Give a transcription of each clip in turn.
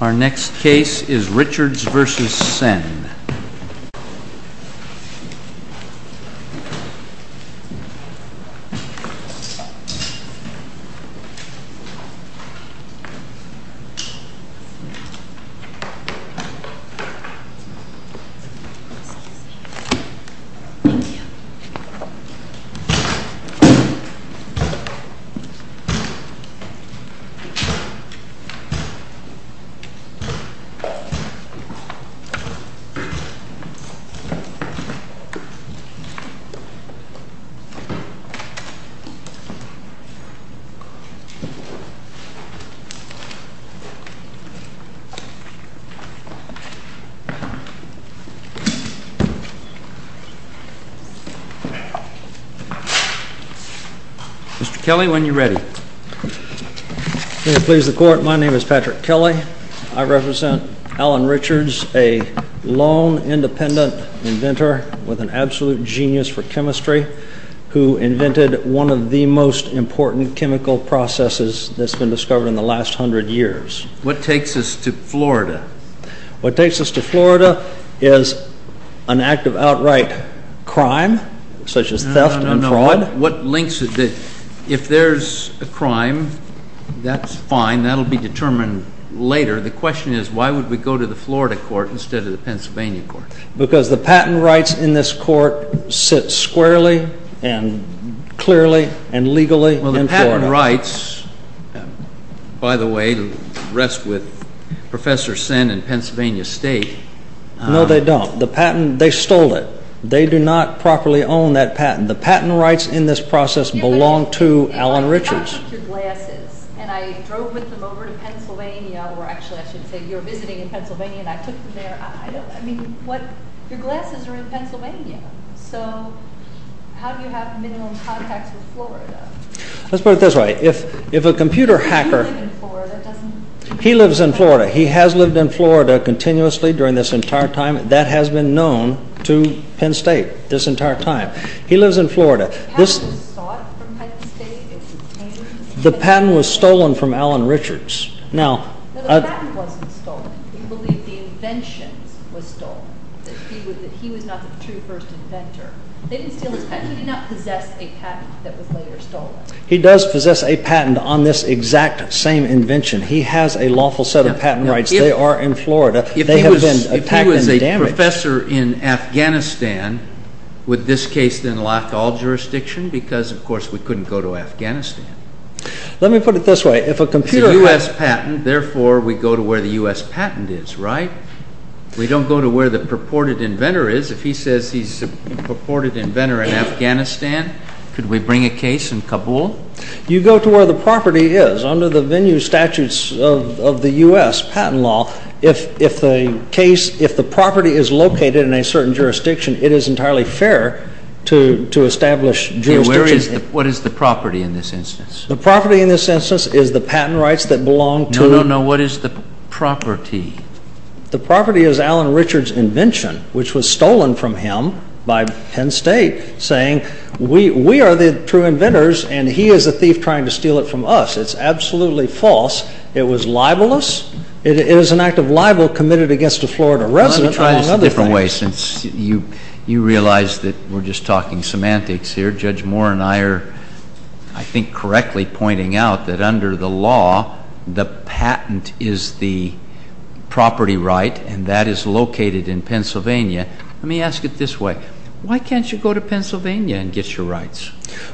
Our next case is RICHARDS v. SEN. RICHARDS v. SEN. I represent Alan Richards, a lone independent inventor with an absolute genius for chemistry who invented one of the most important chemical processes that's been discovered in the last hundred years. What takes us to Florida? What takes us to Florida is an act of outright crime, such as theft and fraud. If there's a crime, that's fine. That'll be determined later. The question is, why would we go to the Florida court instead of the Pennsylvania court? Because the patent rights in this court sit squarely and clearly and legally in Florida. Well, the patent rights, by the way, rest with Professor Sen and Pennsylvania State. No, they don't. They stole it. They do not properly own that patent. The patent rights in this process belong to Alan Richards. I took your glasses, and I drove with them over to Pennsylvania. Or actually, I should say, you were visiting in Pennsylvania, and I took them there. I mean, your glasses are in Pennsylvania. So how do you have minimum contacts with Florida? Let's put it this way. If a computer hacker... He lives in Florida. He lives in Florida. He has lived in Florida continuously during this entire time. That has been known to Penn State this entire time. He lives in Florida. The patent was sought from Penn State. It was obtained. The patent was stolen from Alan Richards. No, the patent wasn't stolen. We believe the invention was stolen, that he was not the true first inventor. They didn't steal his patent. He did not possess a patent that was later stolen. He does possess a patent on this exact same invention. He has a lawful set of patent rights. They are in Florida. If he was a professor in Afghanistan, would this case then lock all jurisdiction? Because, of course, we couldn't go to Afghanistan. Let me put it this way. If a computer hacker... It's a U.S. patent. Therefore, we go to where the U.S. patent is, right? We don't go to where the purported inventor is. If he says he's a purported inventor in Afghanistan, could we bring a case in Kabul? You go to where the property is. Under the venue statutes of the U.S. patent law, if the property is located in a certain jurisdiction, it is entirely fair to establish jurisdiction. What is the property in this instance? The property in this instance is the patent rights that belong to... No, no, no. What is the property? The property is Alan Richards' invention, which was stolen from him by Penn State, saying we are the true inventors and he is a thief trying to steal it from us. It's absolutely false. It was libelous. It was an act of libel committed against a Florida resident. Let me try another thing. You realize that we're just talking semantics here. Judge Moore and I are, I think, correctly pointing out that under the law, the patent is the property right, and that is located in Pennsylvania. Let me ask it this way. Why can't you go to Pennsylvania and get your rights?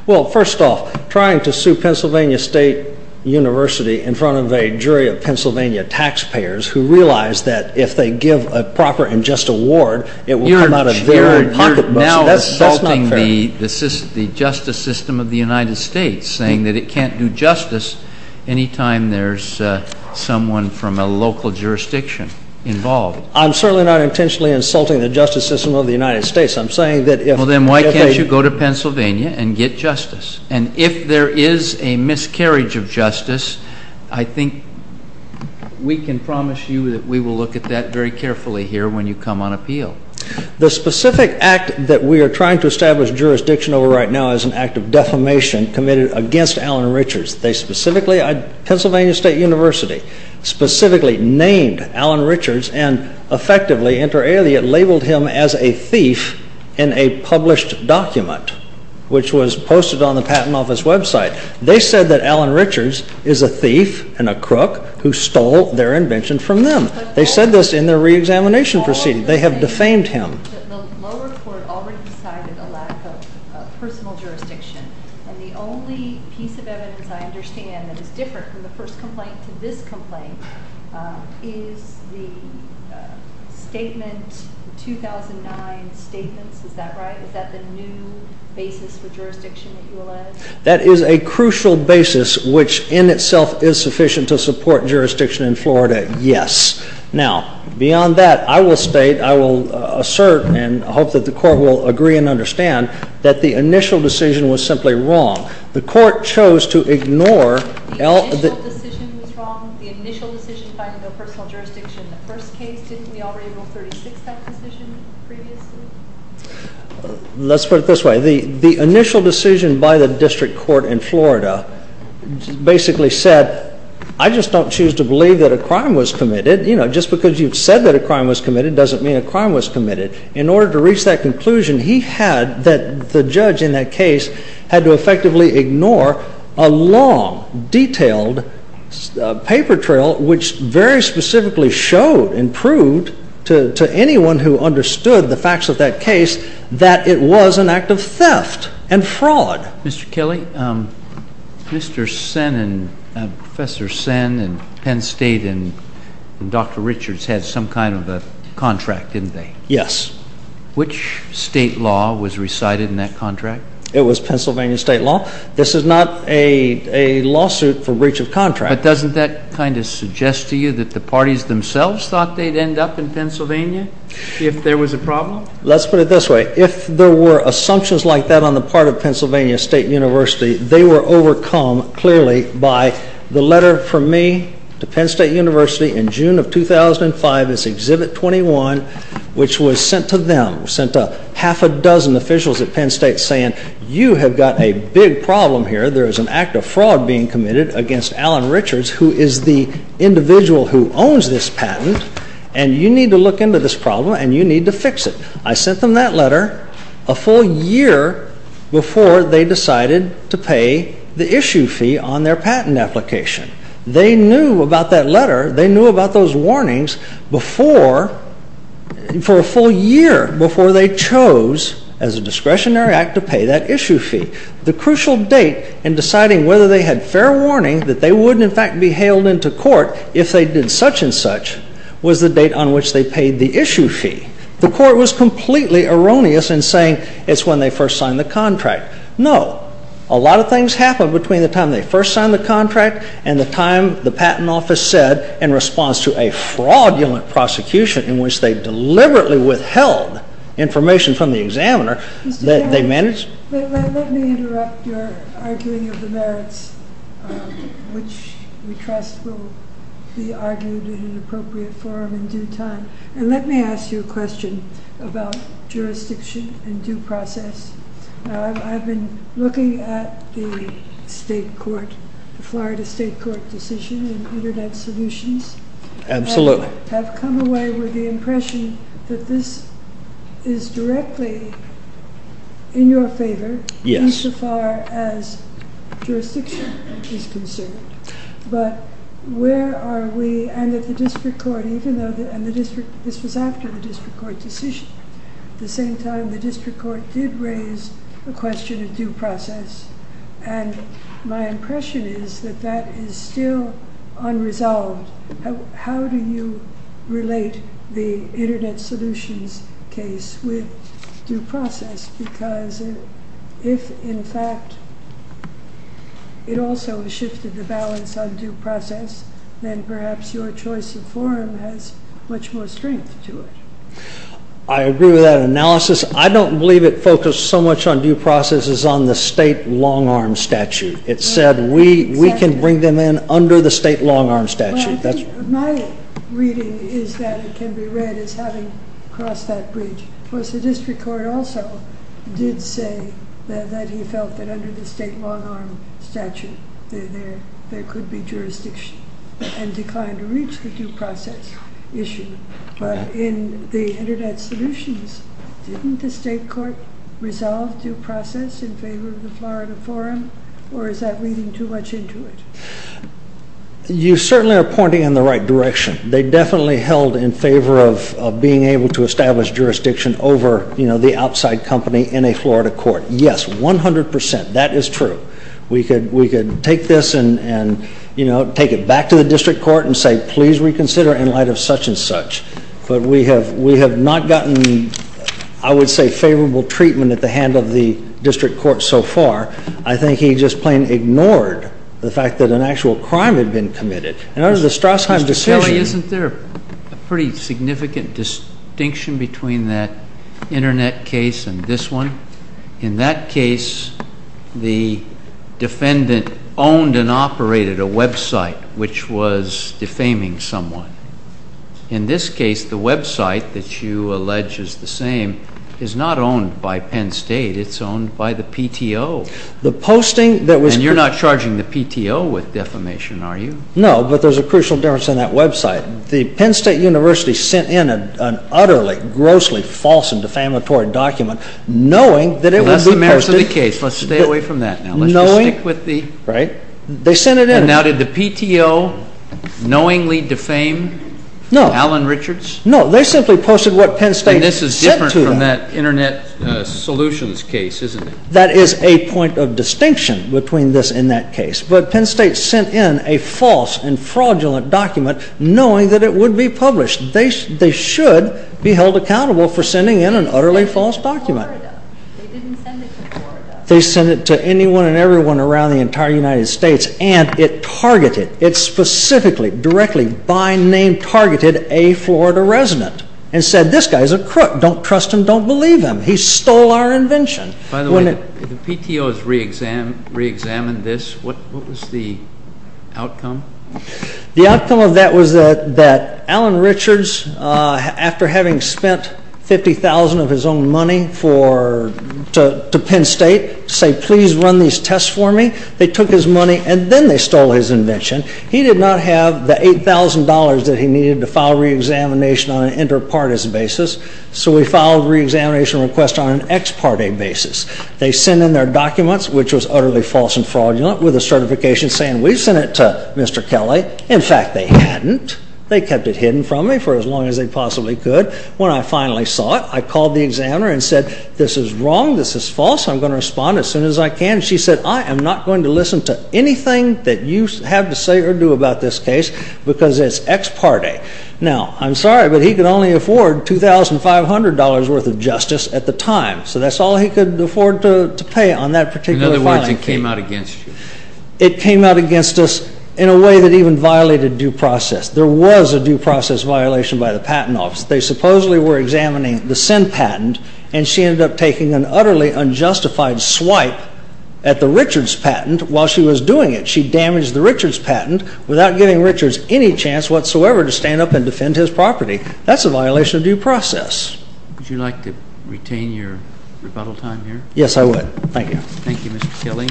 Well, first off, trying to sue Pennsylvania State University in front of a jury of Pennsylvania taxpayers who realize that if they give a proper and just award, it will come out of their pocketbooks. That's not fair. You're now insulting the justice system of the United States, saying that it can't do justice anytime there's someone from a local jurisdiction involved. I'm certainly not intentionally insulting the justice system of the United States. I'm saying that if they... Well, then why can't you go to Pennsylvania and get justice? And if there is a miscarriage of justice, I think we can promise you that we will look at that very carefully here when you come on appeal. The specific act that we are trying to establish jurisdiction over right now is an act of defamation committed against Alan Richards. They specifically, Pennsylvania State University, specifically named Alan Richards and effectively inter alia labeled him as a thief in a published document, which was posted on the Patent Office website. They said that Alan Richards is a thief and a crook who stole their invention from them. They said this in their reexamination proceeding. They have defamed him. The lower court already decided a lack of personal jurisdiction, and the only piece of evidence I understand that is different from the first complaint to this complaint is the statement, the 2009 statements. Is that right? Is that the new basis for jurisdiction at ULM? That is a crucial basis, which in itself is sufficient to support jurisdiction in Florida, yes. Now, beyond that, I will state, I will assert, and I hope that the court will agree and understand that the initial decision was simply wrong. The court chose to ignore... The initial decision was wrong? The initial decision finding no personal jurisdiction in the first case? Didn't we already rule 36 that decision previously? Let's put it this way. The initial decision by the district court in Florida basically said, I just don't choose to believe that a crime was committed. You know, just because you've said that a crime was committed doesn't mean a crime was committed. In order to reach that conclusion, he had, the judge in that case, had to effectively ignore a long, detailed paper trail, which very specifically showed and proved to anyone who understood the facts of that case that it was an act of theft and fraud. Mr. Kelly, Mr. Sen and Professor Sen and Penn State and Dr. Richards had some kind of a contract, didn't they? Yes. Which state law was recited in that contract? It was Pennsylvania state law. This is not a lawsuit for breach of contract. But doesn't that kind of suggest to you that the parties themselves thought they'd end up in Pennsylvania if there was a problem? Let's put it this way. If there were assumptions like that on the part of Pennsylvania State University, they were overcome clearly by the letter from me to Penn State University in June of 2005, which was sent to them, sent to half a dozen officials at Penn State saying, you have got a big problem here. There is an act of fraud being committed against Alan Richards, who is the individual who owns this patent, and you need to look into this problem and you need to fix it. I sent them that letter a full year before they decided to pay the issue fee on their patent application. They knew about that letter. They knew about those warnings for a full year before they chose, as a discretionary act, to pay that issue fee. The crucial date in deciding whether they had fair warning that they would in fact be hailed into court if they did such and such was the date on which they paid the issue fee. The court was completely erroneous in saying it's when they first signed the contract. No. A lot of things happened between the time they first signed the contract and the time the patent office said in response to a fraudulent prosecution in which they deliberately withheld information from the examiner that they managed. Let me interrupt your arguing of the merits, which we trust will be argued in an appropriate forum in due time, and let me ask you a question about jurisdiction and due process. I've been looking at the Florida State Court decision in Internet Solutions. Absolutely. I have come away with the impression that this is directly in your favor insofar as jurisdiction is concerned. But where are we and that the district court, even though this was after the district court decision, at the same time the district court did raise the question of due process, and my impression is that that is still unresolved. How do you relate the Internet Solutions case with due process? Because if in fact it also has shifted the balance on due process, then perhaps your choice of forum has much more strength to it. I agree with that analysis. I don't believe it focused so much on due process as on the state long-arm statute. It said we can bring them in under the state long-arm statute. My reading is that it can be read as having crossed that bridge. Of course, the district court also did say that he felt that under the state long-arm statute there could be jurisdiction and declined to reach the due process issue. But in the Internet Solutions, didn't the state court resolve due process in favor of the Florida forum, or is that leading too much into it? You certainly are pointing in the right direction. They definitely held in favor of being able to establish jurisdiction over the outside company in a Florida court. Yes, 100%. That is true. We could take this and, you know, take it back to the district court and say, please reconsider in light of such and such. But we have not gotten, I would say, favorable treatment at the hand of the district court so far. I think he just plain ignored the fact that an actual crime had been committed. And under the Strassheim decision— Mr. Kelly, isn't there a pretty significant distinction between that Internet case and this one? In that case, the defendant owned and operated a website which was defaming someone. In this case, the website that you allege is the same is not owned by Penn State. It's owned by the PTO. The posting that was— And you're not charging the PTO with defamation, are you? No, but there's a crucial difference in that website. The Penn State University sent in an utterly, grossly false and defamatory document knowing that it would be posted— Unless the merits of the case. Let's stay away from that now. Knowing— Let's just stick with the— Right. They sent it in. And now did the PTO knowingly defame Alan Richards? No, they simply posted what Penn State said to them. And this is different from that Internet solutions case, isn't it? That is a point of distinction between this and that case. But Penn State sent in a false and fraudulent document knowing that it would be published. They should be held accountable for sending in an utterly false document. They didn't send it to Florida. They sent it to anyone and everyone around the entire United States, and it targeted, it specifically, directly, by name targeted a Florida resident and said, this guy's a crook. Don't trust him. Don't believe him. He stole our invention. By the way, the PTO has reexamined this. What was the outcome? The outcome of that was that Alan Richards, after having spent $50,000 of his own money for—to Penn State, said, please run these tests for me. They took his money, and then they stole his invention. He did not have the $8,000 that he needed to file reexamination on an inter-partis basis, so he filed a reexamination request on an ex-parte basis. They sent in their documents, which was utterly false and fraudulent, with a certification saying, we've sent it to Mr. Kelly. In fact, they hadn't. They kept it hidden from me for as long as they possibly could. When I finally saw it, I called the examiner and said, this is wrong. This is false. I'm going to respond as soon as I can. She said, I am not going to listen to anything that you have to say or do about this case because it's ex-parte. Now, I'm sorry, but he could only afford $2,500 worth of justice at the time, so that's all he could afford to pay on that particular filing fee. It came out against you. It came out against us in a way that even violated due process. There was a due process violation by the patent office. They supposedly were examining the Senn patent, and she ended up taking an utterly unjustified swipe at the Richards patent while she was doing it. She damaged the Richards patent without giving Richards any chance whatsoever to stand up and defend his property. That's a violation of due process. Would you like to retain your rebuttal time here? Yes, I would. Thank you. Thank you, Mr. Kelly.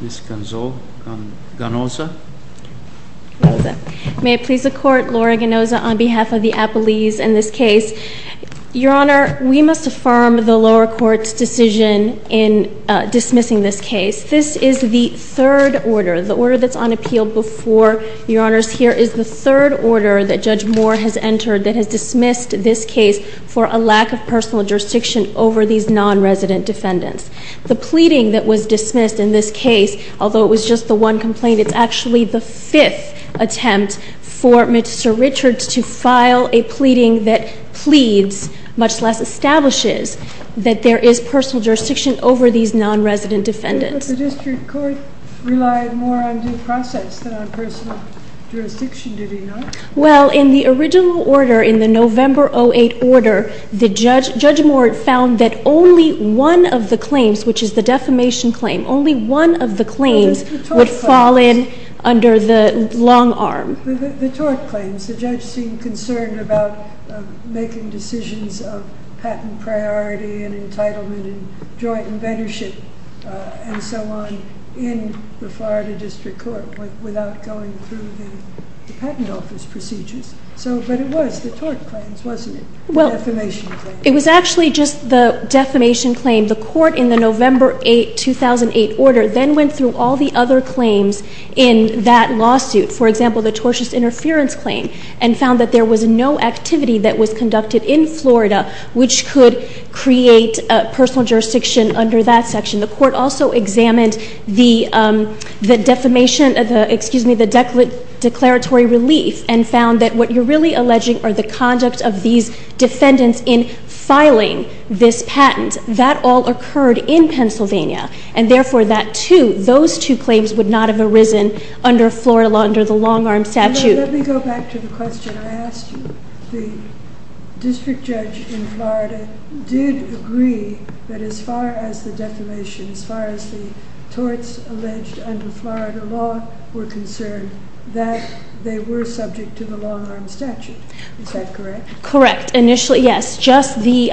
Ms. Gonzo, Ganoza. May it please the Court, Laura Ganoza on behalf of the Appellees in this case. Your Honor, we must affirm the lower court's decision in dismissing this case. This is the third order. The order that's on appeal before Your Honors here is the third order that Judge Moore has entered that has dismissed this case for a lack of personal jurisdiction over these non-resident defendants. The pleading that was dismissed in this case, although it was just the one complaint, it's actually the fifth attempt for Mr. Richards to file a pleading that pleads, much less establishes, that there is personal jurisdiction over these non-resident defendants. But the district court relied more on due process than on personal jurisdiction, did it not? Well, in the original order, in the November 2008 order, Judge Moore found that only one of the claims, which is the defamation claim, only one of the claims would fall in under the long arm. The tort claims. The judge seemed concerned about making decisions of patent priority and entitlement and joint inventorship and so on in the Florida district court without going through the patent office procedures. But it was the tort claims, wasn't it? Well, it was actually just the defamation claim. The court in the November 2008 order then went through all the other claims in that lawsuit, for example, the tortious interference claim, and found that there was no activity that was conducted in Florida which could create personal jurisdiction under that section. The court also examined the declaratory relief and found that what you're really alleging are the conduct of these defendants in filing this patent. That all occurred in Pennsylvania, and therefore those two claims would not have arisen under Florida law, under the long arm statute. Let me go back to the question. I asked you, the district judge in Florida did agree that as far as the defamation, as far as the torts alleged under Florida law were concerned, that they were subject to the long arm statute. Is that correct? Correct. Initially, yes. Just the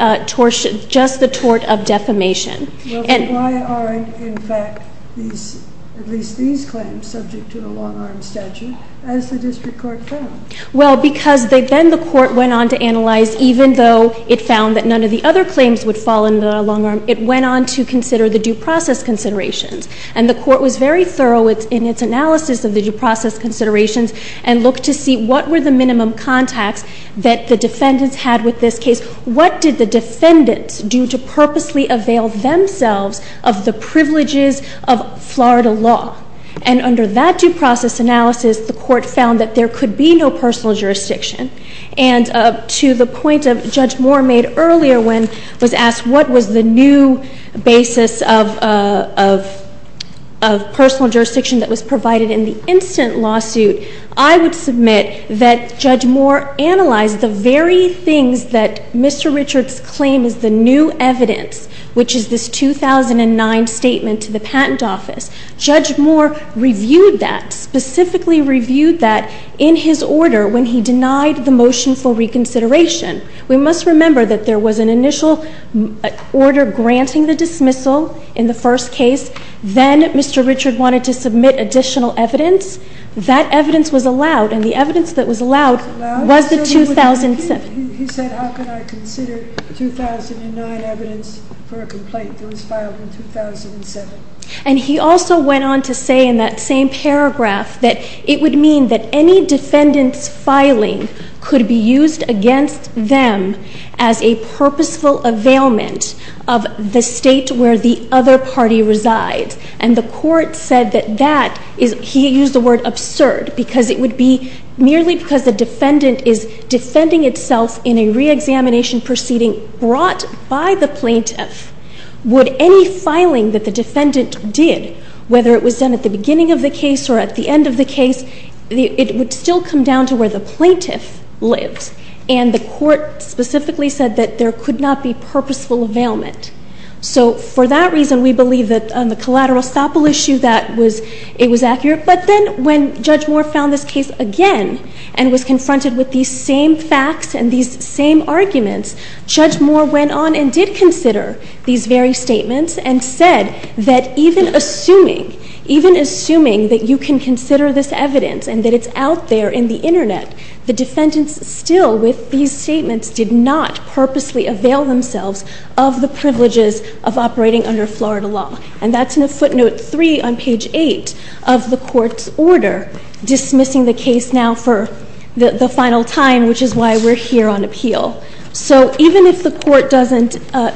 tort of defamation. Why aren't, in fact, at least these claims subject to the long arm statute, as the district court found? Well, because then the court went on to analyze, even though it found that none of the other claims would fall under the long arm, it went on to consider the due process considerations. And the court was very thorough in its analysis of the due process considerations and looked to see what were the minimum contacts that the defendants had with this case. What did the defendants do to purposely avail themselves of the privileges of Florida law? And under that due process analysis, the court found that there could be no personal jurisdiction. And to the point that Judge Moore made earlier when was asked what was the new basis of personal jurisdiction that was provided in the instant lawsuit, I would submit that Judge Moore analyzed the very things that Mr. Richards' claim is the new evidence, which is this 2009 statement to the patent office. Judge Moore reviewed that, specifically reviewed that in his order when he denied the motion for reconsideration. We must remember that there was an initial order granting the dismissal in the first case. Then Mr. Richards wanted to submit additional evidence. That evidence was allowed, and the evidence that was allowed was the 2007. He said, how can I consider 2009 evidence for a complaint that was filed in 2007? And he also went on to say in that same paragraph that it would mean that any defendant's filing could be used against them as a purposeful availment of the state where the other party resides. And the court said that that is, he used the word absurd, because it would be merely because the defendant is defending itself in a reexamination proceeding brought by the plaintiff, would any filing that the defendant did, whether it was done at the beginning of the case or at the end of the case, it would still come down to where the plaintiff lives. And the court specifically said that there could not be purposeful availment. So for that reason, we believe that on the collateral estoppel issue that it was accurate. But then when Judge Moore found this case again and was confronted with these same facts and these same arguments, Judge Moore went on and did consider these very statements and said that even assuming, even assuming that you can consider this evidence and that it's out there in the internet, the defendants still with these statements did not purposely avail themselves of the privileges of operating under Florida law. And that's in a footnote 3 on page 8 of the court's order dismissing the case now for the final time, which is why we're here on appeal. So even if the court doesn't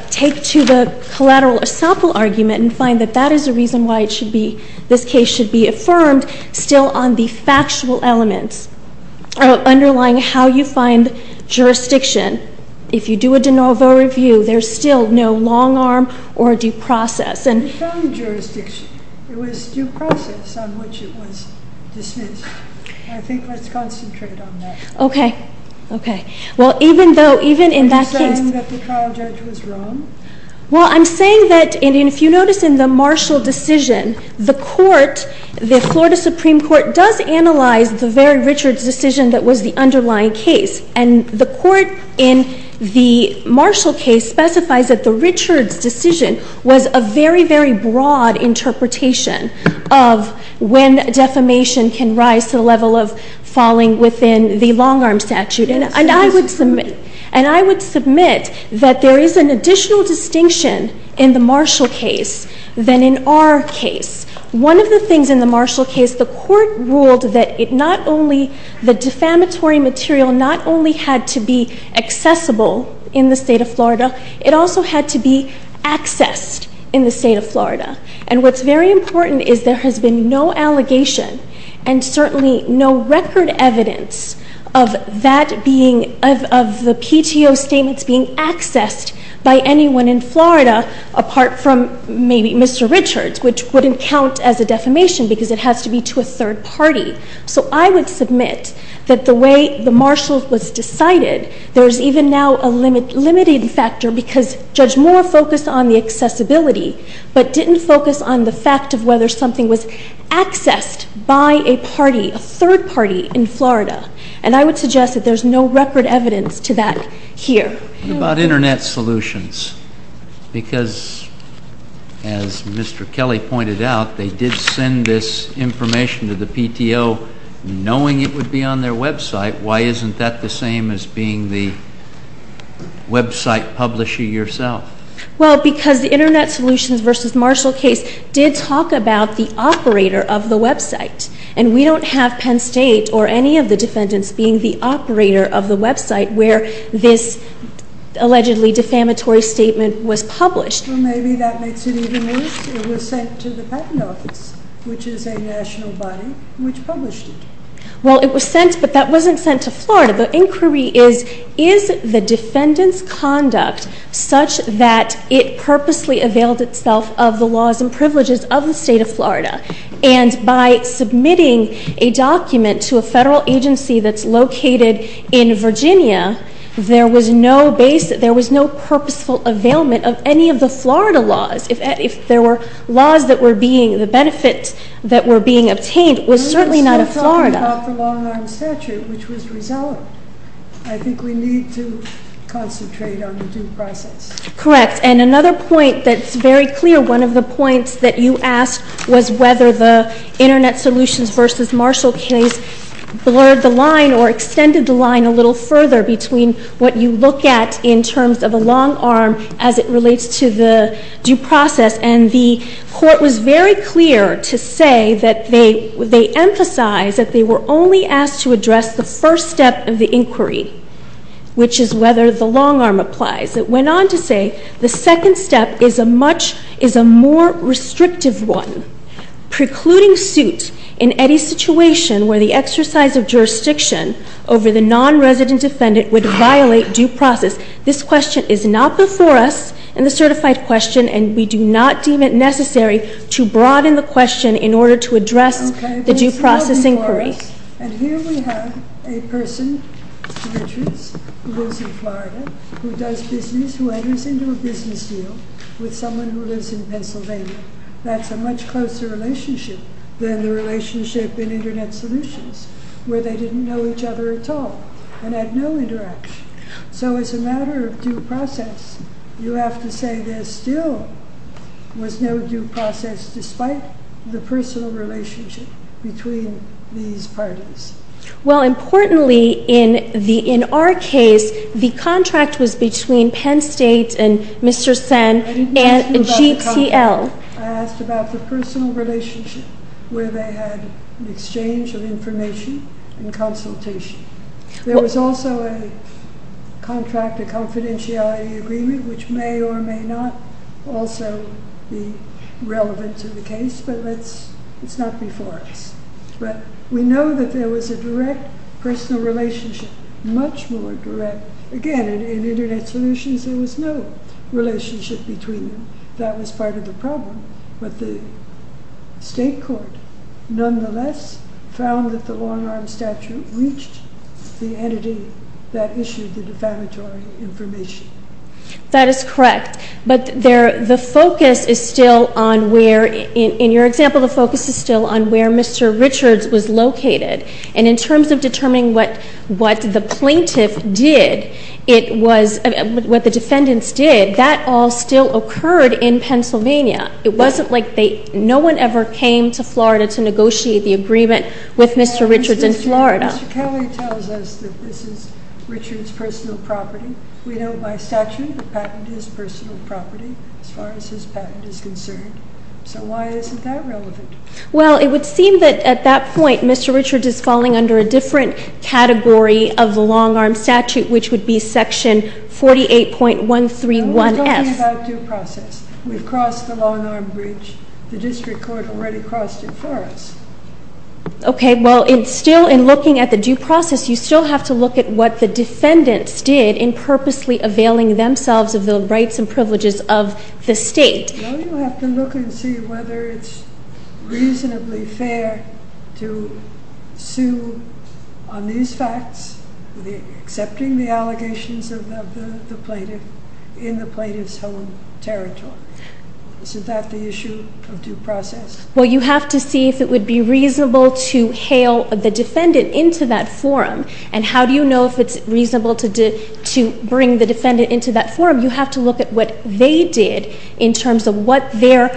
take to the collateral estoppel argument and find that that is a reason why it should be, this case should be affirmed still on the factual elements underlying how you find jurisdiction. If you do a de novo review, there's still no long arm or due process. It was due process on which it was dismissed. I think let's concentrate on that. Okay. Okay. Well, even though, even in that case. Are you saying that the trial judge was wrong? Well, I'm saying that, and if you notice in the Marshall decision, the court, the Florida Supreme Court does analyze the very Richards decision that was the underlying case. And the court in the Marshall case specifies that the Richards decision was a very, very broad interpretation of when defamation can rise to the level of falling within the long arm statute. And I would submit, and I would submit that there is an additional distinction in the Marshall case than in our case. One of the things in the Marshall case, the court ruled that it not only, the defamatory material not only had to be accessible in the state of Florida, it also had to be accessed in the state of Florida. And what's very important is there has been no allegation and certainly no record evidence of that being, of the PTO statements being accessed by anyone in Florida apart from maybe Mr. Richards, which wouldn't count as a defamation because it has to be to a third party. So I would submit that the way the Marshall was decided, there is even now a limited factor because Judge Moore focused on the accessibility, but didn't focus on the fact of whether something was accessed by a party, a third party in Florida. And I would suggest that there is no record evidence to that here. What about internet solutions? Because as Mr. Kelly pointed out, they did send this information to the PTO knowing it would be on their website. Why isn't that the same as being the website publisher yourself? Well, because the internet solutions versus Marshall case did talk about the operator of the website. And we don't have Penn State or any of the defendants being the operator of the website where this allegedly defamatory statement was published. Well, maybe that makes it even worse. It was sent to the patent office, which is a national body, which published it. Well, it was sent, but that wasn't sent to Florida. The inquiry is, is the defendant's conduct such that it purposely availed itself of the laws and privileges of the state of Florida? And by submitting a document to a federal agency that's located in Virginia, there was no purposeful availment of any of the Florida laws. If there were laws that were being, the benefits that were being obtained was certainly not of Florida. We're still talking about the long-arm statute, which was resolved. I think we need to concentrate on the due process. Correct. And another point that's very clear, one of the points that you asked was whether the internet solutions versus Marshall case blurred the line or extended the line a little further between what you look at in terms of a long-arm as it relates to the due process. And the court was very clear to say that they, they emphasized that they were only asked to address the first step of the inquiry, which is whether the long-arm applies. It went on to say the second step is a much, is a more restrictive one. Precluding suit in any situation where the exercise of jurisdiction over the non-resident defendant would violate due process. This question is not before us in the certified question and we do not deem it necessary to broaden the question in order to address the due process inquiry. And here we have a person who lives in Florida who does business, who enters into a business deal with someone who lives in Pennsylvania. That's a much closer relationship than the relationship in internet solutions where they didn't know each other at all and had no interaction. So as a matter of due process, you have to say there still was no due process despite the personal relationship between these parties. Well, importantly in the, in our case, the contract was between Penn State and Mr. Sen and GCL. I asked about the personal relationship where they had an exchange of information and consultation. There was also a contract, a confidentiality agreement, which may or may not also be relevant to the case, but let's, it's not before us. But we know that there was a direct personal relationship, much more direct. Again, in internet solutions there was no relationship between them. That was part of the problem, but the state court nonetheless found that the long-arm statute reached the entity that issued the defamatory information. That is correct, but there, the focus is still on where, in your example, the focus is still on where Mr. Richards was located. And in terms of determining what the plaintiff did, it was, what the defendants did, that all still occurred in Pennsylvania. It wasn't like they, no one ever came to Florida to negotiate the agreement with Mr. Richards in Florida. Mr. Kelly tells us that this is Richards' personal property. We know by statute the patent is personal property as far as his patent is concerned. So why isn't that relevant? Well, it would seem that at that point Mr. Richards is falling under a different category of the long-arm statute, which would be section 48.131F. We're talking about due process. We've crossed the long-arm breach. The district court already crossed it for us. Okay, well, it's still, in looking at the due process, you still have to look at what the defendants did in purposely availing themselves of the rights and privileges of the state. No, you have to look and see whether it's reasonably fair to sue on these facts, accepting the allegations of the plaintiff in the plaintiff's home territory. Isn't that the issue of due process? Well, you have to see if it would be reasonable to hail the defendant into that forum. And how do you know if it's reasonable to bring the defendant into that forum? You have to look at what they did in terms of what their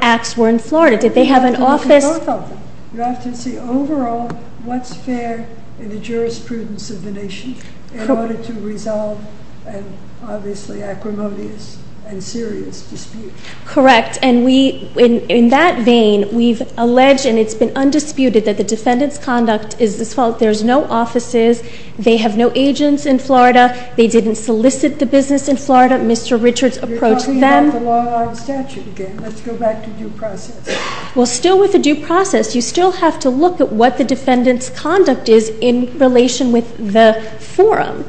acts were in Florida. Did they have an office? You have to see both of them. You have to see overall what's fair in the jurisprudence of the nation in order to resolve an obviously acrimonious and serious dispute. Correct. In that vein, we've alleged and it's been undisputed that the defendant's conduct is the fault. There's no offices. They have no agents in Florida. They didn't solicit the business in Florida. Mr. Richards approached them. You're talking about the long-arm statute again. Let's go back to due process. Well, still with the due process, you still have to look at what the defendant's conduct is in relation with the forum.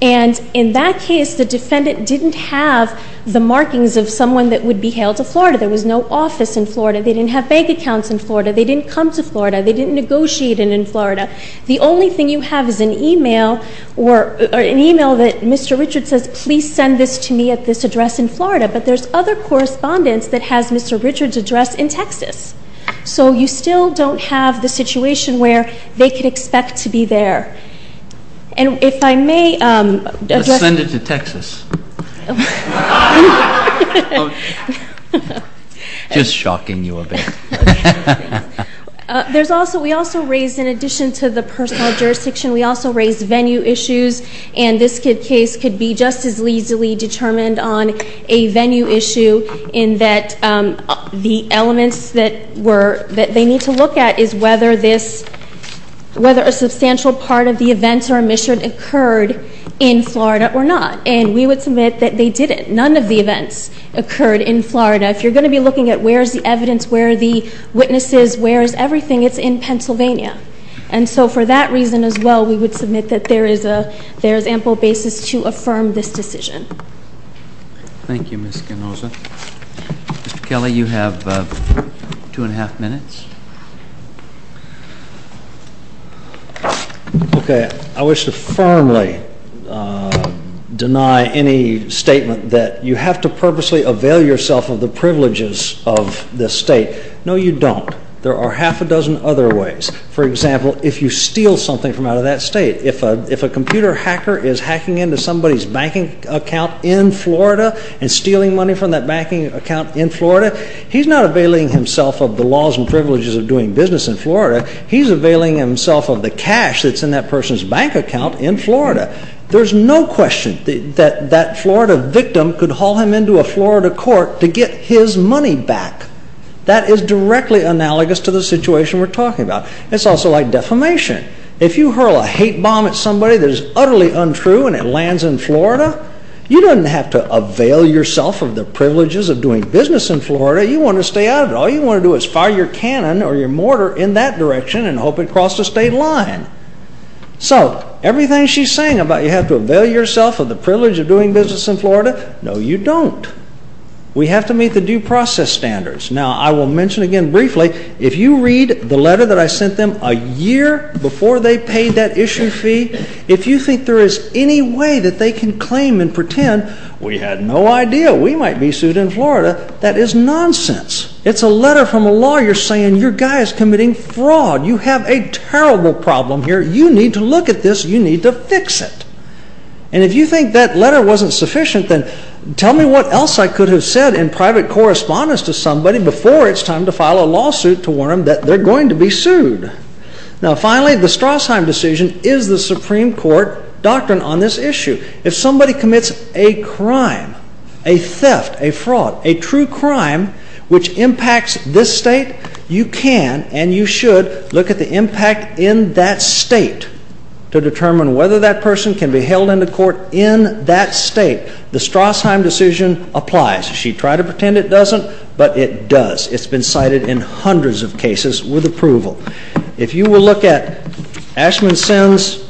And in that case, the defendant didn't have the markings of someone that would be hailed to Florida. There was no office in Florida. They didn't have bank accounts in Florida. They didn't come to Florida. They didn't negotiate in Florida. The only thing you have is an email that Mr. Richards says, please send this to me at this address in Florida. But there's other correspondence that has Mr. Richards' address in Texas. So you still don't have the situation where they could expect to be there. And if I may address... Let's send it to Texas. Just shocking you a bit. We also raised, in addition to the personal jurisdiction, we also raised venue issues, and this case could be just as easily determined on a venue issue in that the elements that they need to look at is whether a substantial part of the events or omission occurred in Florida or not. And we would submit that they didn't. None of the events occurred in Florida. If you're going to be looking at where's the evidence, where are the witnesses, where is everything, it's in Pennsylvania. And so for that reason as well, we would submit that there is ample basis to affirm this decision. Thank you, Ms. Canosa. Mr. Kelly, you have two and a half minutes. Okay, I wish to firmly deny any statement that you have to purposely avail yourself of the privileges of this state. No, you don't. There are half a dozen other ways. For example, if you steal something from out of that state, if a computer hacker is hacking into somebody's banking account in Florida and stealing money from that banking account in Florida, he's not availing himself of the laws and privileges of doing business in Florida. He's availing himself of the cash that's in that person's bank account in Florida. There's no question that that Florida victim could haul him into a Florida court to get his money back. That is directly analogous to the situation we're talking about. It's also like defamation. If you hurl a hate bomb at somebody that is utterly untrue and it lands in Florida, you don't have to avail yourself of the privileges of doing business in Florida. You want to stay out of it. All you want to do is fire your cannon or your mortar in that direction and hope it crosses the state line. So everything she's saying about you have to avail yourself of the privilege of doing business in Florida, no, you don't. We have to meet the due process standards. Now, I will mention again briefly, if you read the letter that I sent them a year before they paid that issue fee, if you think there is any way that they can claim and pretend we had no idea we might be sued in Florida, that is nonsense. It's a letter from a lawyer saying your guy is committing fraud. You have a terrible problem here. You need to look at this. You need to fix it. And if you think that letter wasn't sufficient, then tell me what else I could have said in private correspondence to somebody before it's time to file a lawsuit to warn them that they're going to be sued. Now, finally, the Strassheim decision is the Supreme Court doctrine on this issue. If somebody commits a crime, a theft, a fraud, a true crime which impacts this state, you can and you should look at the impact in that state to determine whether that person can be held into court in that state. The Strassheim decision applies. She tried to pretend it doesn't, but it does. It's been cited in hundreds of cases with approval. If you will look at Ashman Sen's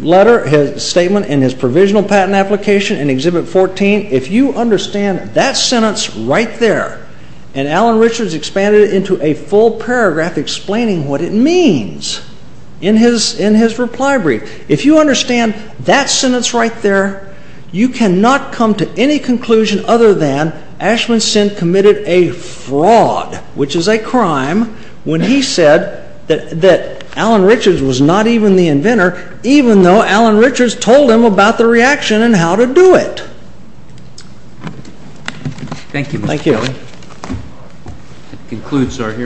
letter, his statement, and his provisional patent application in Exhibit 14, if you understand that sentence right there, and Alan Richards expanded it into a full paragraph explaining what it means in his reply brief, if you understand that sentence right there, you cannot come to any conclusion other than Ashman Sen committed a fraud, which is a crime, when he said that Alan Richards was not even the inventor, even though Alan Richards told him about the reaction and how to do it. Thank you. Thank you.